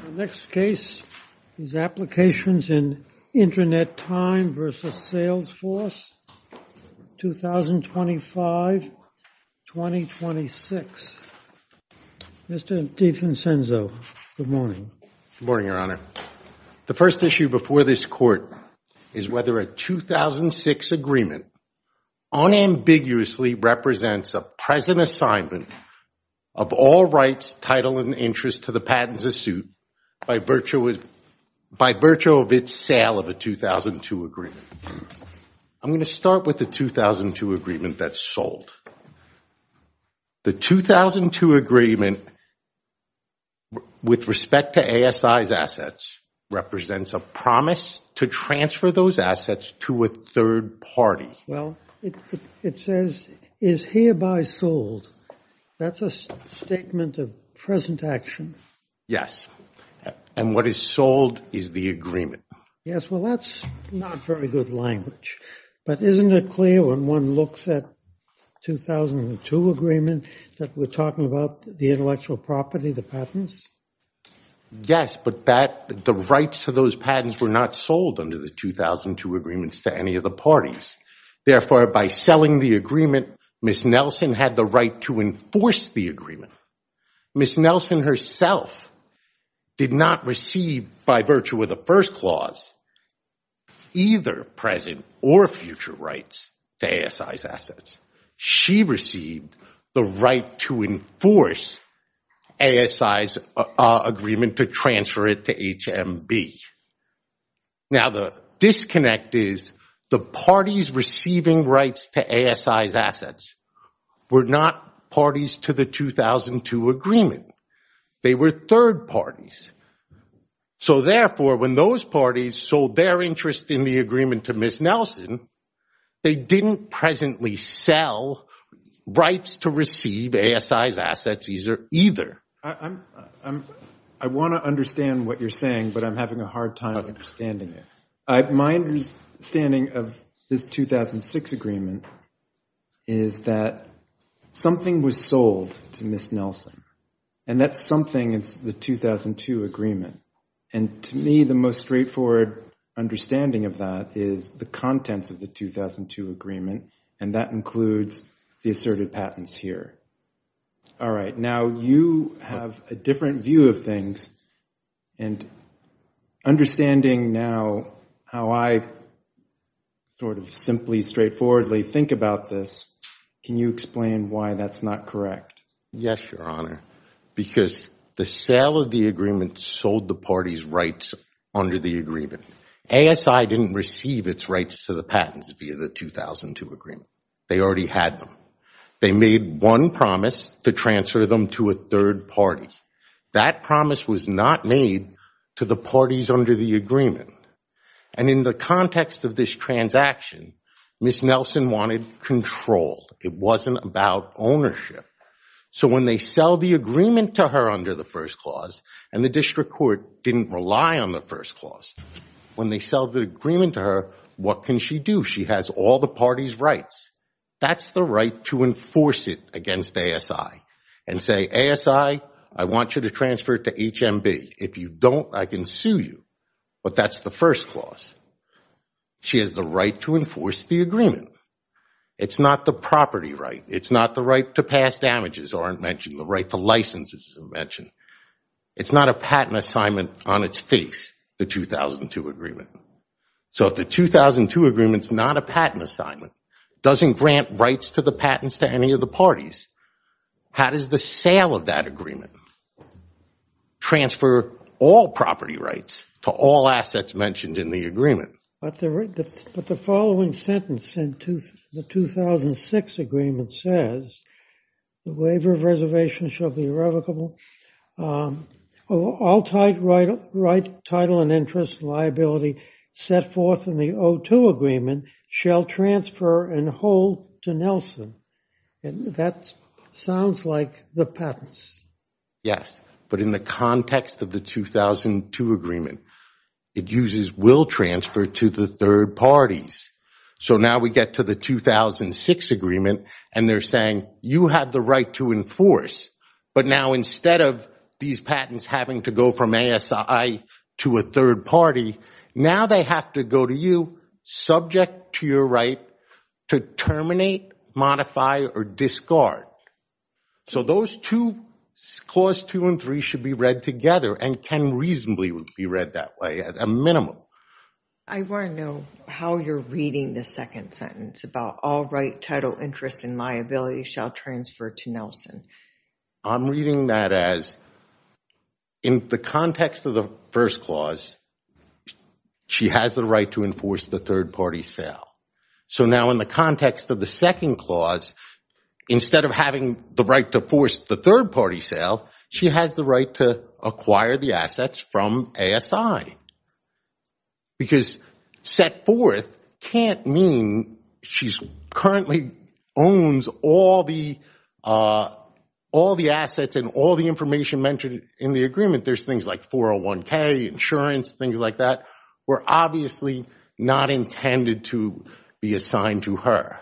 The next case is Applications In Internet Time v. Salesforce, 2025-2026. Mr. DiFrancenzo, good morning. Good morning, Your Honor. The first issue before this Court is whether a 2006 agreement unambiguously represents a present assignment of all rights, title, and interest to the patents of suit by virtue of its sale of a 2002 agreement. I'm going to start with the 2002 agreement that's sold. The 2002 agreement, with respect to ASI's assets, represents a promise to transfer those assets to a third party. Well, it says, is hereby sold. That's a statement of present action. Yes. And what is sold is the agreement. Yes, well, that's not very good language. But isn't it clear when one looks at 2002 agreement that we're talking about the intellectual property, the patents? Yes, but the rights to those patents were not sold under the 2002 agreements to any of the parties. Therefore, by selling the agreement, Ms. Nelson had the right to enforce the agreement. Ms. Nelson herself did not receive, by virtue of the first clause, either present or future rights to ASI's assets. She received the right to enforce ASI's agreement to transfer it to HMB. Now, the disconnect is the parties receiving rights to ASI's assets were not parties to the 2002 agreement. They were third parties. So therefore, when those parties sold their interest in the agreement to Ms. Nelson, they didn't sell rights to receive ASI's assets either. I want to understand what you're saying, but I'm having a hard time understanding it. My understanding of this 2006 agreement is that something was sold to Ms. Nelson. And that something is the 2002 agreement. And to me, the most straightforward understanding of that is the contents of the 2002 agreement. And that includes the asserted patents here. All right, now you have a different view of things. And understanding now how I sort of simply, straightforwardly think about this, can you explain why that's not correct? Yes, Your Honor. Because the sale of the agreement sold the party's rights under the agreement. ASI didn't receive its rights to the patents via the 2002 agreement. They already had them. They made one promise to transfer them to a third party. That promise was not made to the parties under the agreement. And in the context of this transaction, Ms. Nelson wanted control. It wasn't about ownership. So when they sell the agreement to her under the first clause, and the district court didn't rely on the first clause, when they sell the agreement to her, what can she do? She has all the party's rights. That's the right to enforce it against ASI. And say, ASI, I want you to transfer it to HMB. If you don't, I can sue you. But that's the first clause. She has the right to enforce the agreement. It's not the property right. It's not the right to pass damages or invention. The right to license is invention. It's not a patent assignment on its face, the 2002 agreement. So if the 2002 agreement's not a patent assignment, doesn't grant rights to the patents to any of the parties, how does the sale of that agreement transfer all property rights to all assets mentioned in the agreement? But the following sentence in the 2006 agreement says, the waiver of reservation shall be irrevocable. All title and interest liability set forth in the 02 agreement shall transfer and hold to Nelson. And that sounds like the patents. Yes, but in the context of the 2002 agreement, it uses will transfer to the third parties. So now we get to the 2006 agreement, and they're saying, you have the right to enforce. But now instead of these patents having to go from ASI to a third party, now they have to go to you, subject to your right, to terminate, modify, or discard. So those two, clause 2 and 3, should be read together and can reasonably be read that way at a minimum. I want to know how you're reading the second sentence about all right, title, interest, and liability shall transfer to Nelson. I'm reading that as, in the context of the first clause, she has the right to enforce the third party sale. So now in the context of the second clause, instead of having the right to force the third party sale, she has the right to acquire the assets from ASI. Because set forth can't mean she currently owns all the assets and all the information mentioned in the agreement. There's things like 401k, insurance, things like that, were obviously not intended to be assigned to her.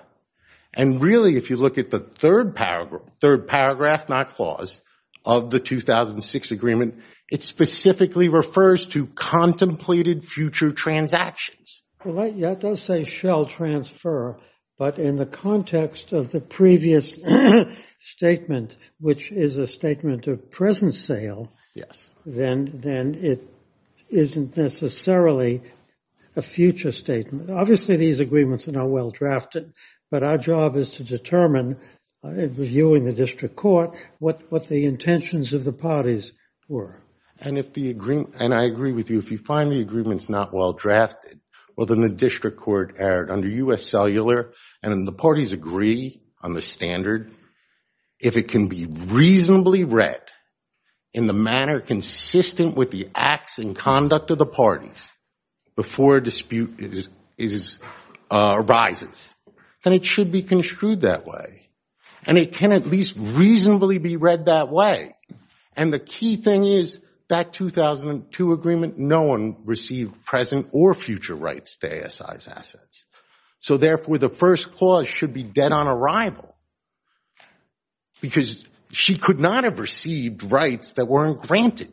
And really, if you look at the third paragraph, not clause, of the 2006 agreement, it specifically refers to contemplated future transactions. Well, that does say shall transfer. But in the context of the previous statement, which is a statement of present sale, then it isn't necessarily a future statement. Obviously, these agreements are not well drafted. But our job is to determine, reviewing the district court, what the intentions of the parties were. And if the agreement, and I agree with you, if you find the agreements not well drafted, well, then the district court erred under US Cellular. And then the parties agree on the standard. If it can be reasonably read in the manner consistent with the acts and conduct of the parties before a dispute arises, then it should be construed that way. And it can at least reasonably be read that way. And the key thing is, that 2002 agreement, no one received present or future rights to ASI's assets. So therefore, the first clause should be dead on arrival. Because she could not have received rights that weren't granted.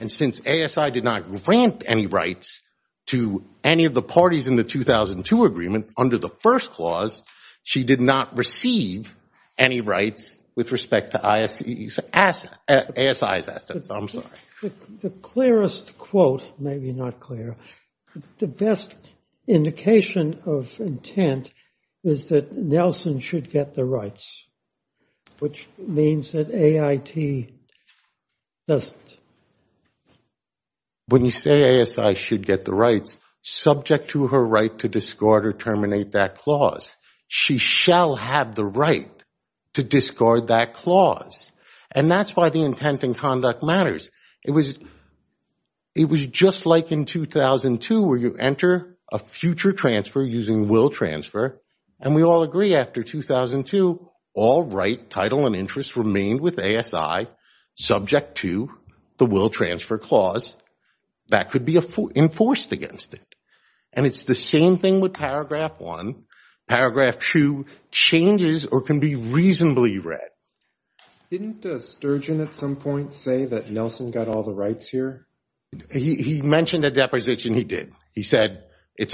And since ASI did not grant any rights to any of the parties in the 2002 agreement under the first clause, she did not receive any rights with respect to ASI's assets. I'm sorry. The clearest quote, maybe not clear, the best indication of intent is that Nelson should get the rights, which means that AIT doesn't. When you say ASI should get the rights, subject to her right to discard or terminate that clause, she shall have the right to discard that clause. And that's why the intent and conduct matters. It was just like in 2002, where you enter a future transfer using will transfer. And we all agree after 2002, all right, title, and interests remained with ASI, subject to the will transfer clause. That could be enforced against it. And it's the same thing with paragraph 1. Paragraph 2 changes or can be reasonably read. Didn't Sturgeon at some point say that Nelson got all the rights here? He mentioned at deposition he did. He said it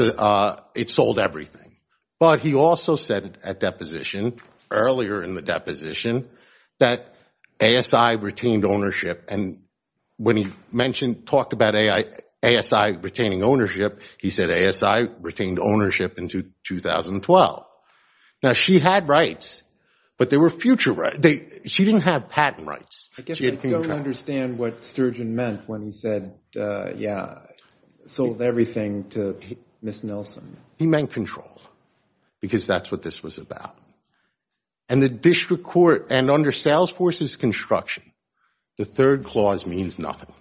sold everything. But he also said at deposition, earlier in the deposition, that ASI retained ownership. And when he mentioned, talked about ASI retaining ownership, he said ASI retained ownership in 2012. Now she had rights, but they were future rights. She didn't have patent rights. I guess I don't understand what Sturgeon meant when he said, yeah, sold everything to Miss Nelson. He meant control, because that's what this was about. And the district court, and under Salesforce's construction, the third clause means nothing.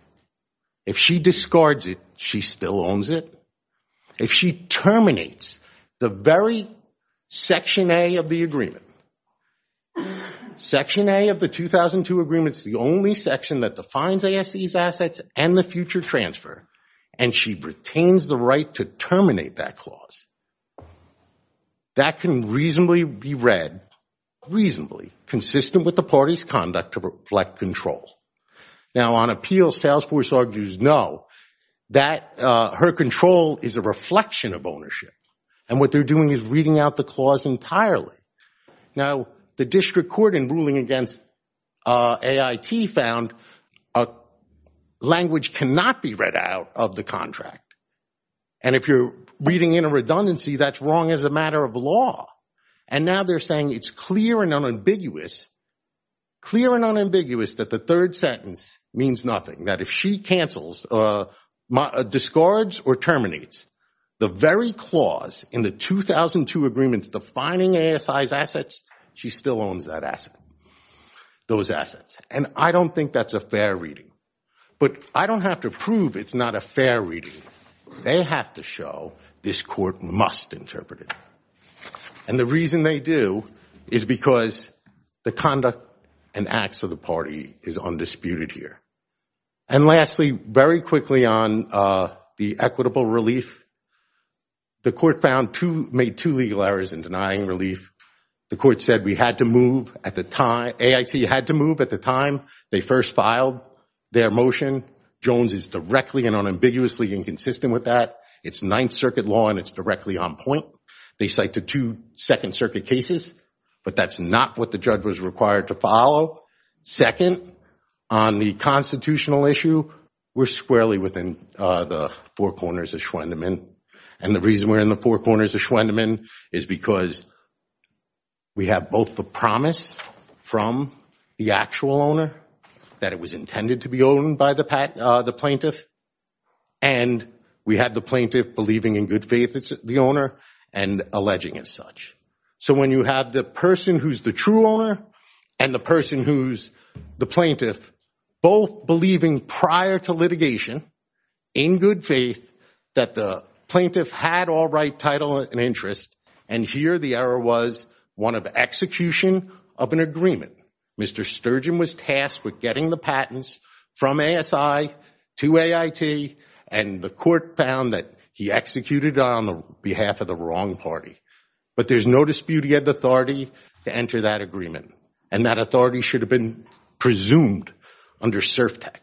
If she discards it, she still owns it. If she terminates the very section A of the agreement, section A of the 2002 agreement is the only section that defines ASI's assets and the future transfer, and she retains the right to terminate that clause, that can reasonably be read, reasonably, consistent with the party's conduct to reflect control. Now on appeal, Salesforce argues no, that her control is a reflection of ownership. And what they're doing is reading out the clause entirely. Now the district court in ruling against AIT found language cannot be read out of the contract. And if you're reading in a redundancy, that's wrong as a matter of law. And now they're saying it's clear and unambiguous, clear and unambiguous, that the third sentence means nothing. That if she cancels, discards, or terminates the very clause in the 2002 agreements defining ASI's assets, she still owns that asset, those assets. And I don't think that's a fair reading. But I don't have to prove it's not a fair reading. They have to show this court must interpret it. And the reason they do is because the conduct and acts of the party is undisputed here. And lastly, very quickly on the equitable relief, the court made two legal errors in denying relief. The court said AIT had to move at the time they first filed their motion. Jones is directly and unambiguously inconsistent with that. It's Ninth Circuit law, and it's directly on point. They cited two Second Circuit cases, but that's not what the judge was required to follow. Second, on the constitutional issue, we're squarely within the four corners of Schwendemann. And the reason we're in the four corners of Schwendemann is because we have both the promise from the actual owner that it was intended to be owned by the plaintiff, and we had the plaintiff believing in good faith it's the owner and alleging as such. So when you have the person who's the true owner and the person who's the plaintiff both believing prior to litigation in good faith that the plaintiff had all right, title, and interest, and here the error was one of execution of an agreement. Mr. Sturgeon was tasked with getting the patents from ASI to AIT, and the court found that he executed on behalf of the wrong party. But there's no dispute he had the authority to enter that agreement, and that authority should have been presumed under CERFTEC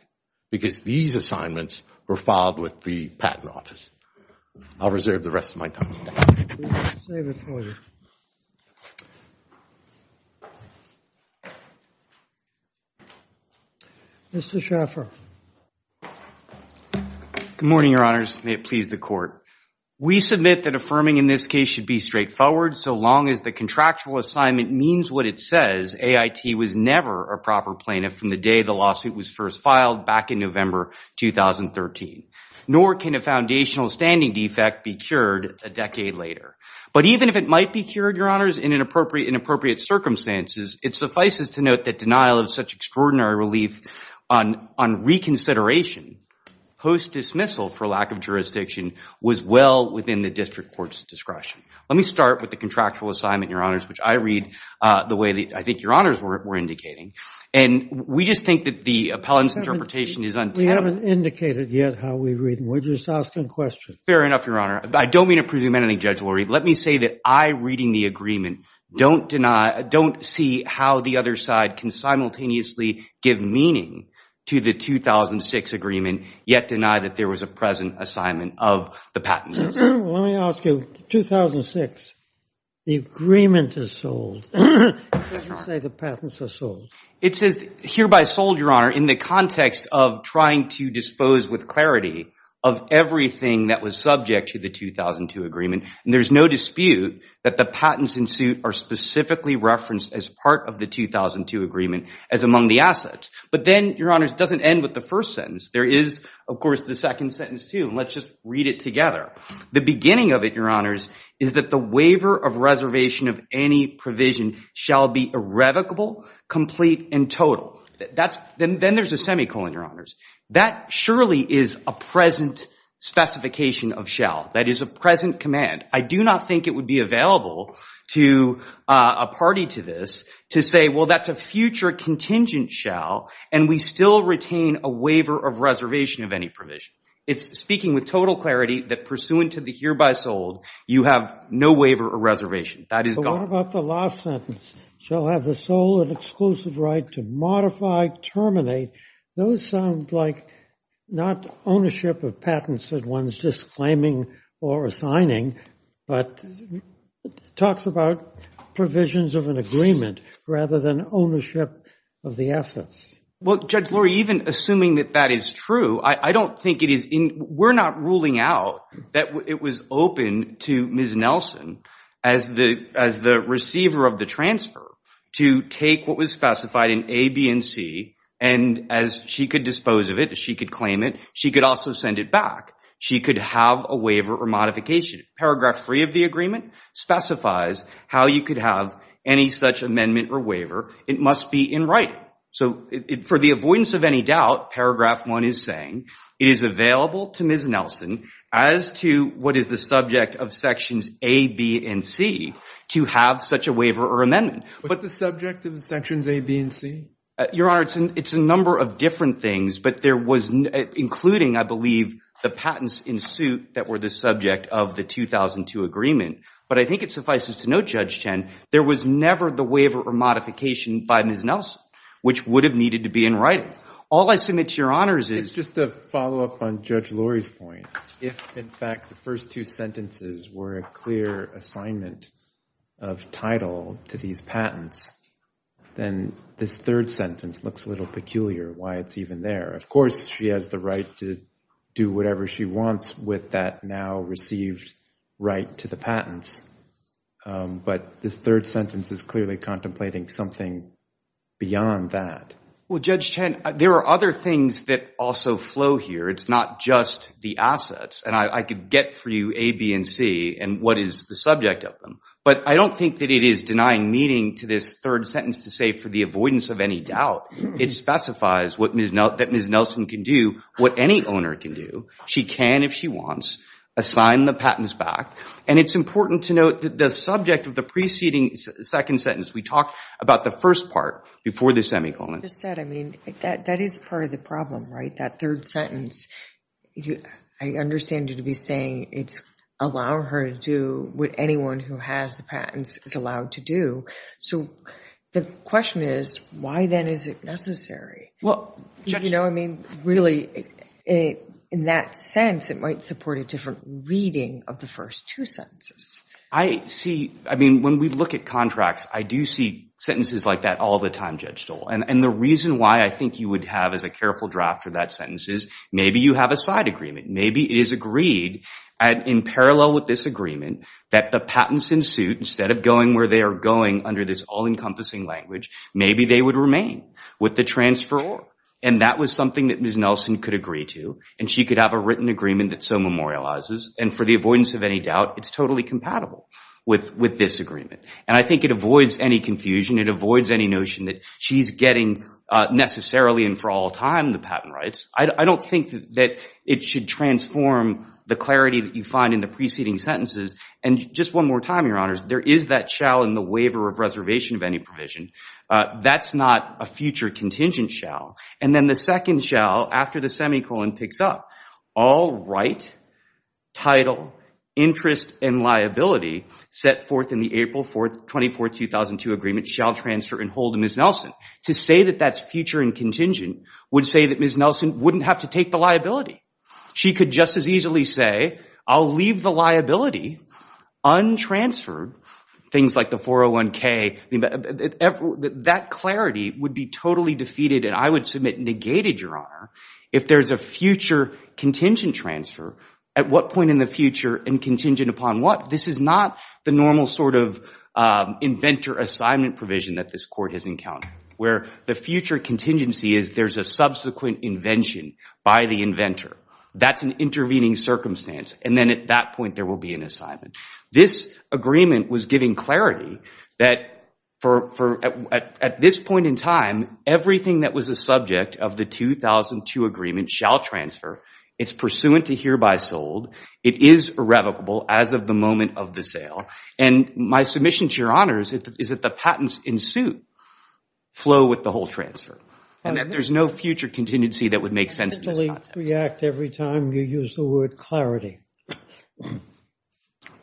because these assignments were filed with the Patent Office. I'll reserve the rest of my time. I'll save it for later. Mr. Schaffer. Good morning, Your Honors. May it please the court. We submit that affirming in this case should be straightforward so long as the contractual assignment means what it says, AIT was never a proper plaintiff from the day the lawsuit was first filed back in November 2013. Nor can a foundational standing defect be cured a decade later. But even if it might be cured, Your Honors, in inappropriate circumstances, it suffices to note that denial of such extraordinary relief on reconsideration post-dismissal for lack of jurisdiction was well within the district court's discretion. Let me start with the contractual assignment, Your Honors, which I read the way that I think Your Honors were indicating. And we just think that the appellant's interpretation is untamable. We haven't indicated yet how we read them. We're just asking questions. Fair enough, Your Honor. I don't mean to presume anything, Judge Lurie. Let me say that I, reading the agreement, don't see how the other side can simultaneously give meaning to the 2006 agreement, yet deny that there was a present assignment of the patents. Let me ask you. 2006, the agreement is sold. Does it say the patents are sold? It says hereby sold, Your Honor, in the context of trying to dispose with clarity of everything that was subject to the 2002 agreement. And there's no dispute that the patents in suit are specifically referenced as part of the 2002 agreement as among the assets. But then, Your Honors, it doesn't end with the first sentence. There is, of course, the second sentence, too. And let's just read it together. The beginning of it, Your Honors, is that the waiver of reservation of any provision shall be irrevocable, complete, and total. Then there's a semicolon, Your Honors. That surely is a present specification of shall. That is a present command. I do not think it would be available to a party to this to say, well, that's a future contingent shall, and we still retain a waiver of reservation of any provision. It's speaking with total clarity that pursuant to the hereby sold, you have no waiver or reservation. That is gone. But what about the last sentence? Shall have the sole and exclusive right to modify, terminate. Those sound like not ownership of patents that one's disclaiming or assigning, but talks about provisions of an agreement rather than ownership of the assets. Well, Judge Lurie, even assuming that that is true, I don't think it is. We're not ruling out that it was open to Ms. Nelson as the receiver of the transfer to take what was specified in A, B, and C. And as she could dispose of it, as she could claim it, she could also send it back. She could have a waiver or modification. Paragraph 3 of the agreement specifies how you could have any such amendment or waiver. It must be in writing. So for the avoidance of any doubt, paragraph 1 is saying it is available to Ms. Nelson as to what is the subject of sections A, B, and C to have such a waiver or amendment. But the subject of the sections A, B, and C? Your Honor, it's a number of different things. But there was, including, I believe, the patents in suit that were the subject of the 2002 agreement. But I think it suffices to note, Judge Chen, there was never the waiver or modification by Ms. Nelson, which would have needed to be in writing. All I submit to your honors is just to follow up on Judge Lurie's point, if, in fact, the first two sentences were a clear assignment of title to these patents, then this third sentence looks a little peculiar why it's even there. Of course, she has the right to do whatever she wants with that now received right to the patents. But this third sentence is clearly contemplating something beyond that. Well, Judge Chen, there are other things that also flow here. It's not just the assets. And I could get through A, B, and C and what is the subject of them. But I don't think that it is denying meaning to this third sentence to say, for the avoidance of any doubt, it specifies that Ms. Nelson can do what any owner can do. She can, if she wants, assign the patents back. And it's important to note that the subject of the preceding second sentence, we talked about the first part before the semicolon. Just that, I mean, that is part of the problem, right? That third sentence. I understand you to be saying it's allow her to do what anyone who has the patents is allowed to do. So the question is, why then is it necessary? Well, Judge Chen. You know, I mean, really, in that sense, it might support a different reading of the first two sentences. I see. I mean, when we look at contracts, I do see sentences like that all the time, Judge Stoll. And the reason why I think you would have as a careful draft for that sentence is maybe you have a side agreement. Maybe it is agreed, in parallel with this agreement, that the patents in suit, instead of going where they are going under this all-encompassing language, maybe they would remain with the transferor. And that was something that Ms. Nelson could agree to. And she could have a written agreement that so memorializes. And for the avoidance of any doubt, it's totally compatible with this agreement. And I think it avoids any confusion. It avoids any notion that she's getting, necessarily and for all time, the patent rights. I don't think that it should transform the clarity that you find in the preceding sentences. And just one more time, Your Honors, there is that shall in the waiver of reservation of any provision. That's not a future contingent shall. And then the second shall, after the semicolon picks up, all right, title, interest, and liability set forth in the April 24, 2002 agreement shall transfer and hold to Ms. Nelson. To say that that's future and contingent would say that Ms. Nelson wouldn't have to take the liability. She could just as easily say, I'll leave the liability untransferred, things like the 401k. That clarity would be totally defeated, and I would submit negated, Your Honor, if there is a future contingent transfer. At what point in the future and contingent upon what? This is not the normal sort of inventor assignment provision that this court has encountered, where the future contingency is that there's a subsequent invention by the inventor. That's an intervening circumstance. And then at that point, there will be an assignment. This agreement was giving clarity that at this point in time, everything that was a subject of the 2002 agreement shall transfer. It's pursuant to hereby sold. It is irrevocable as of the moment of the sale. And my submission to Your Honors is that the patents ensue flow with the whole transfer, and that there's no future contingency that would make sense in this context. How do you react every time you use the word clarity?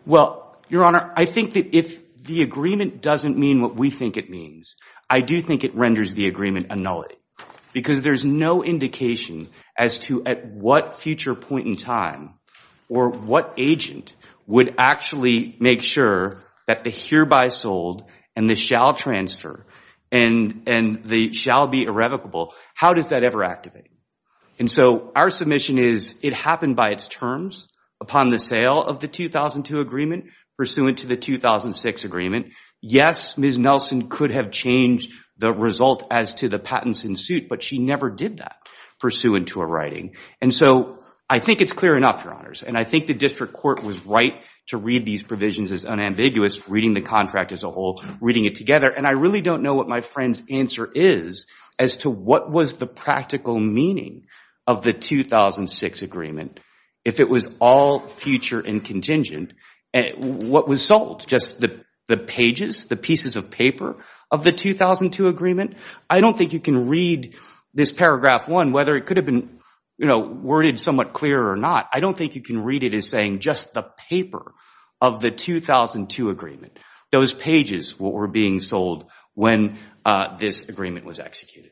Well, Your Honor, I think that if the agreement doesn't mean what we think it means, I do think it renders the agreement a nullity, because there's no indication as to at what future point in time or what agent would actually make sure that the hereby sold and the shall transfer and the shall be irrevocable, how does that ever activate? And so our submission is it happened by its terms upon the sale of the 2002 agreement pursuant to the 2006 agreement. Yes, Ms. Nelson could have changed the result as to the patents ensued, but she never did that pursuant to her writing. And so I think it's clear enough, Your Honors. And I think the district court was right to read these provisions as unambiguous, reading the contract as a whole, reading it together. And I really don't know what my friend's answer is as to what was the practical meaning of the 2006 agreement if it was all future and contingent. What was sold? Just the pages, the pieces of paper of the 2002 agreement? I don't think you can read this paragraph 1, whether it could have been worded somewhat clear or not. I don't think you can read it as saying just the paper of the 2002 agreement. Those pages were being sold when this agreement was executed.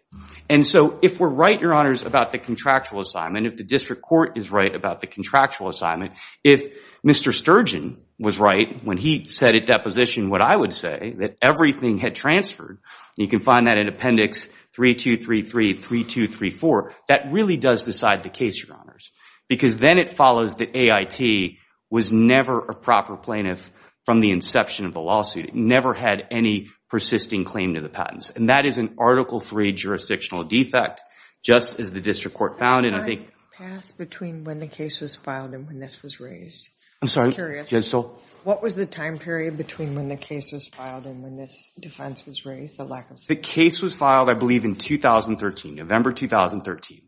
And so if we're right, Your Honors, about the contractual assignment, if the district court is right about the contractual assignment, if Mr. Sturgeon was right when he said at deposition what I would say, that everything had transferred, you can find that in appendix 3233, 3234, that really does decide the case, Your Honors. Because then it follows that AIT was never a proper plaintiff from the inception of the lawsuit. It never had any persisting claim to the patents. And that is an Article III jurisdictional defect, just as the district court found it. Can I pass between when the case was filed and when this was raised? I'm sorry, yes, so? What was the time period between when the case was filed and when this defense was raised? The case was filed, I believe, in 2013, November 2013.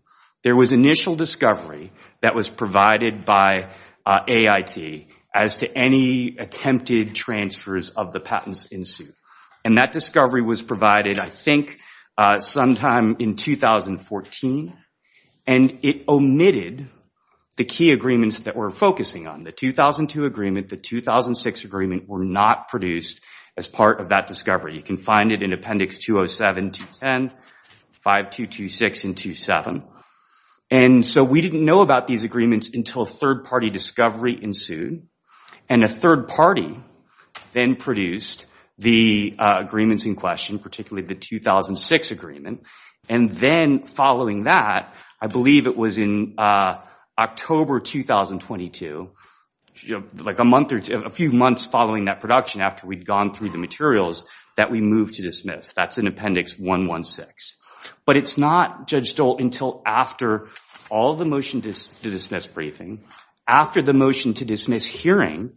There was initial discovery that was provided by AIT as to any attempted transfers of the patents in suit. And that discovery was provided, I think, sometime in 2014. And it omitted the key agreements that we're focusing on. The 2002 agreement, the 2006 agreement were not produced as part of that discovery. You can find it in appendix 207, 210, 5226, and 27. And so we didn't know about these agreements until third party discovery ensued. And a third party then produced the agreements in question, particularly the 2006 agreement. And then following that, I believe it was in October 2022, a few months following that production after we'd gone through the materials, that we moved to dismiss. That's in appendix 116. But it's not, Judge Stolt, until after all the motion to dismiss briefing, after the motion to dismiss hearing,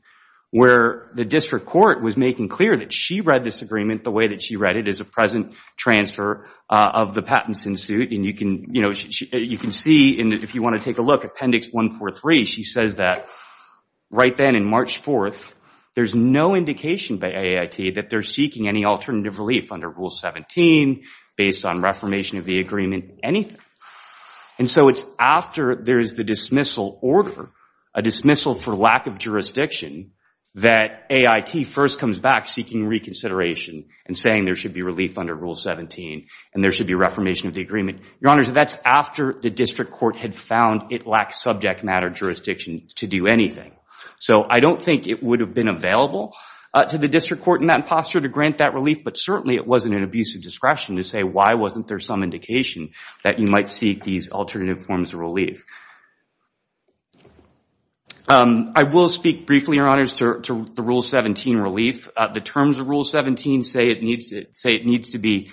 where the district court was making clear that she read this agreement the way that she read it as a present transfer of the patents in suit. And you can see, if you want to take a look, appendix 143, she says that right then in March 4th, there's no indication by AIT that they're seeking any alternative relief under rule 17, based on reformation of the agreement, anything. And so it's after there is the dismissal order, a dismissal for lack of jurisdiction, that AIT first comes back seeking reconsideration and saying there should be relief under rule 17 and there should be reformation of the agreement. Your honors, that's after the district court had found it lacked subject matter jurisdiction to do anything. So I don't think it would have been available to the district court in that posture to grant that relief. But certainly, it wasn't an abuse of discretion to say, why wasn't there some indication that you might seek these alternative forms of relief? I will speak briefly, your honors, to the rule 17 relief. The terms of rule 17 say it needs to be,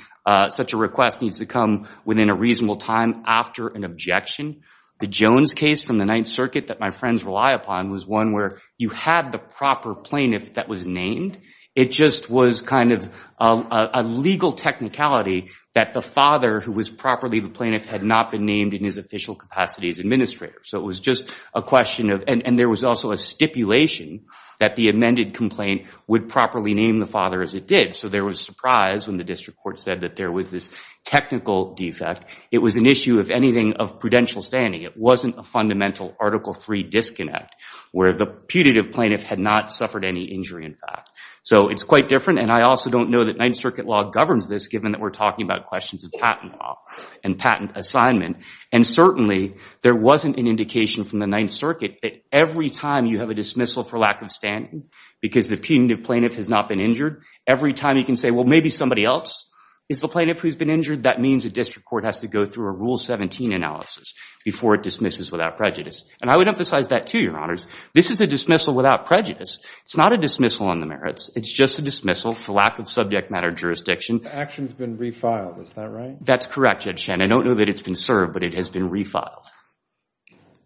such a request needs to come within a reasonable time after an objection. The Jones case from the Ninth Circuit that my friends rely upon was one where you had the proper plaintiff that was named. It just was kind of a legal technicality that the father, who was properly the plaintiff, had not been named in his official capacity as administrator. So it was just a question of, and there was also a stipulation that the amended complaint would properly name the father as it did. So there was surprise when the district court said that there was this technical defect. It was an issue, if anything, of prudential standing. It wasn't a fundamental Article III disconnect where the putative plaintiff had not suffered any injury, in fact. So it's quite different. And I also don't know that Ninth Circuit law governs this, given that we're talking about questions of patent law and patent assignment. And certainly, there wasn't an indication from the Ninth Circuit that every time you have a dismissal for lack of standing, because the putative plaintiff has not been injured, every time you can say, well, maybe somebody else is the plaintiff who's been injured, that means a district court has to go through a rule 17 analysis before it dismisses without prejudice. And I would emphasize that, too, Your Honors. This is a dismissal without prejudice. It's not a dismissal on the merits. It's just a dismissal for lack of subject matter jurisdiction. The action's been refiled, is that right? That's correct, Judge Shannon. I don't know that it's been served, but it has been refiled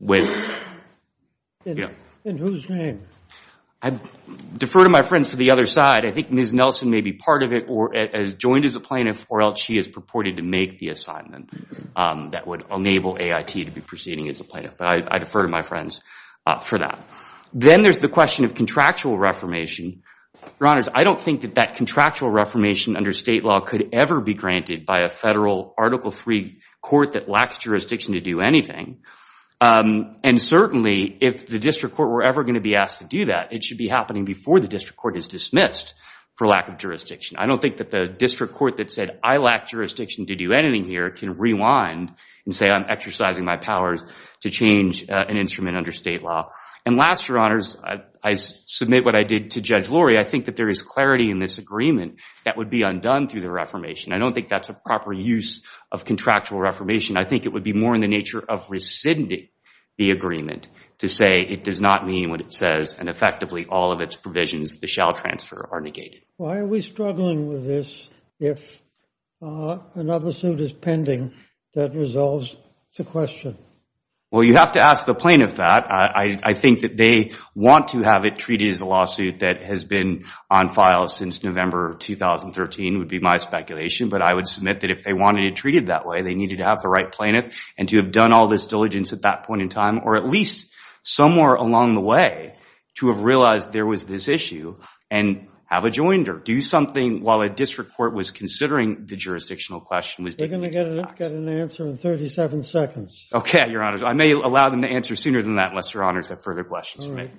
with, you know. In whose name? I defer to my friends to the other side. I think Ms. Nelson may be part of it, or has joined as a plaintiff, or else she is purported to make the assignment that would enable AIT to be proceeding as a plaintiff. But I defer to my friends for that. Then there's the question of contractual reformation. Your Honors, I don't think that that contractual reformation under state law could ever be granted by a federal Article III court that lacks jurisdiction to do anything. And certainly, if the district court were ever going to be asked to do that, it should be happening before the district court is dismissed for lack of jurisdiction. I don't think that the district court that said, I lack jurisdiction to do anything here, can rewind and say, I'm exercising my powers to change an instrument under state law. And last, Your Honors, I submit what I did to Judge Lurie. I think that there is clarity in this agreement that would be undone through the reformation. I don't think that's a proper use of contractual reformation. I think it would be more in the nature of rescinding the agreement to say, it does not mean what it says. And effectively, all of its provisions, the shall transfer, are negated. Why are we struggling with this if another suit is pending that resolves the question? Well, you have to ask the plaintiff that. I think that they want to have it treated as a lawsuit that has been on file since November of 2013, would be my speculation. But I would submit that if they wanted it treated that way, they needed to have the right plaintiff and to have done all this diligence at that point in time, or at least somewhere along the way to have realized there was this issue and have adjoined or do something while a district court was considering the jurisdictional question. We're going to get an answer in 37 seconds. OK, Your Honors. I may allow them to answer sooner than that, unless Your Honors have further questions for me.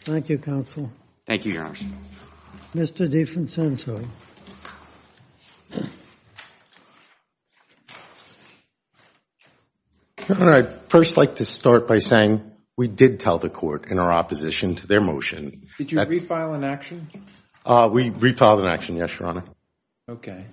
Thank you, counsel. Thank you, Your Honors. Mr. Diefensensoy. I'd first like to start by saying we did tell the court in our opposition to their motion. Did you refile an action? We refiled an action, yes, Your Honor. OK.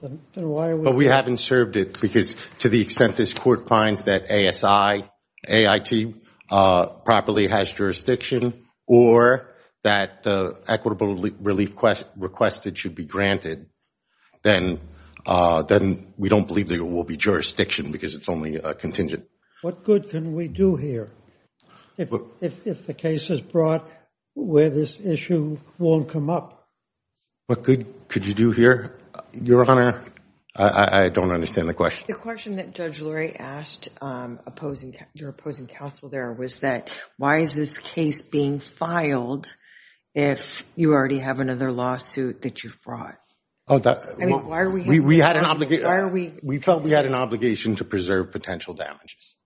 But we haven't served it, because to the extent that this court finds that ASI, AIT, properly has jurisdiction, or that the equitable relief requested should be granted, then we don't believe there will be jurisdiction, because it's only contingent. What good can we do here if the case is brought where this issue won't come up? What good could you do here, Your Honor? I don't understand the question. The question that Judge Lurie asked your opposing counsel there was that, why is this case being filed if you already have another lawsuit that you've brought? Why are we here? We felt we had an obligation to preserve potential damages.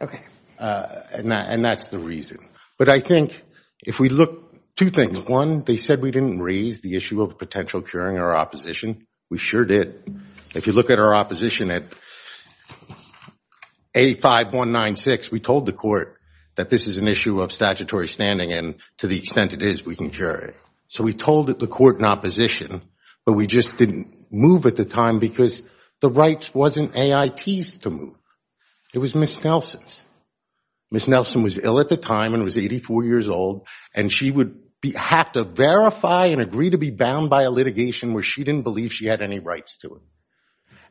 OK. And that's the reason. But I think if we look, two things. One, they said we didn't raise the issue of potential curing our opposition. We sure did. If you look at our opposition at 85196, we told the court that this is an issue of statutory standing, and to the extent it is, we can cure it. So we told the court in opposition, but we just didn't move at the time, because the rights wasn't AIT's to move. It was Ms. Nelson's. Ms. Nelson was ill at the time and was 84 years old, and she would have to verify and agree to be bound by a litigation where she didn't believe she had any rights to it.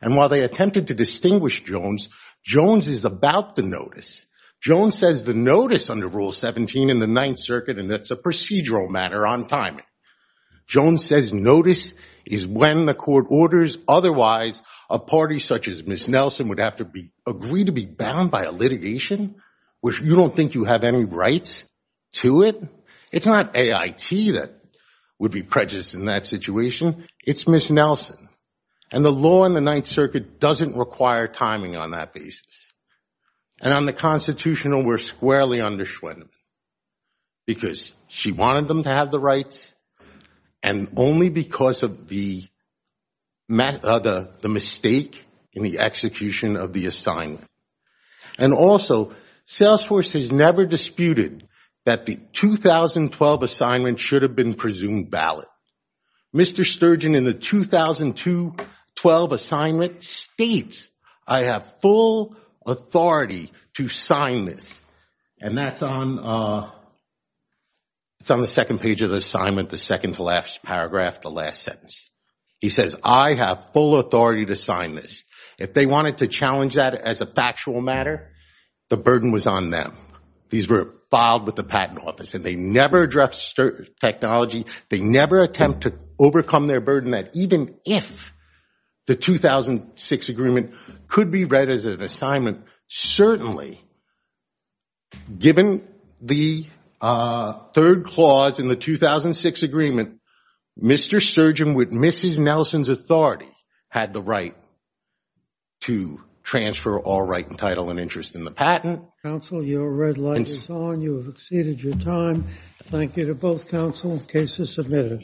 And while they attempted to distinguish Jones, Jones is about the notice. Jones says the notice under Rule 17 in the Ninth Circuit, and that's a procedural matter on timing. Jones says notice is when the court orders. Otherwise, a party such as Ms. Nelson would have to agree to be bound by a litigation where you don't think you have any rights to it? It's not AIT that would be prejudiced in that situation. It's Ms. Nelson. And the law in the Ninth Circuit doesn't require timing on that basis. And on the constitutional, we're squarely under Schwedeman, because she wanted them to have the rights, and only because of the mistake in the execution of the assignment. And also, Salesforce has never disputed that the 2012 assignment should have been presumed ballot. Mr. Sturgeon, in the 2012 assignment, states, I have full authority to sign this. And that's on the second page of the assignment, the second to last paragraph, the last sentence. He says, I have full authority to sign this. If they wanted to challenge that as a factual matter, the burden was on them. These were filed with the Patent Office, and they never addressed technology. They never attempt to overcome their burden, that even if the 2006 agreement could be read as an assignment, certainly, given the third clause in the 2006 agreement, Mr. Sturgeon, with Mrs. Nelson's authority, had the right to transfer all right and title and interest in the patent. Counsel, your red light is on. You have exceeded your time. Thank you to both counsel. Cases submitted.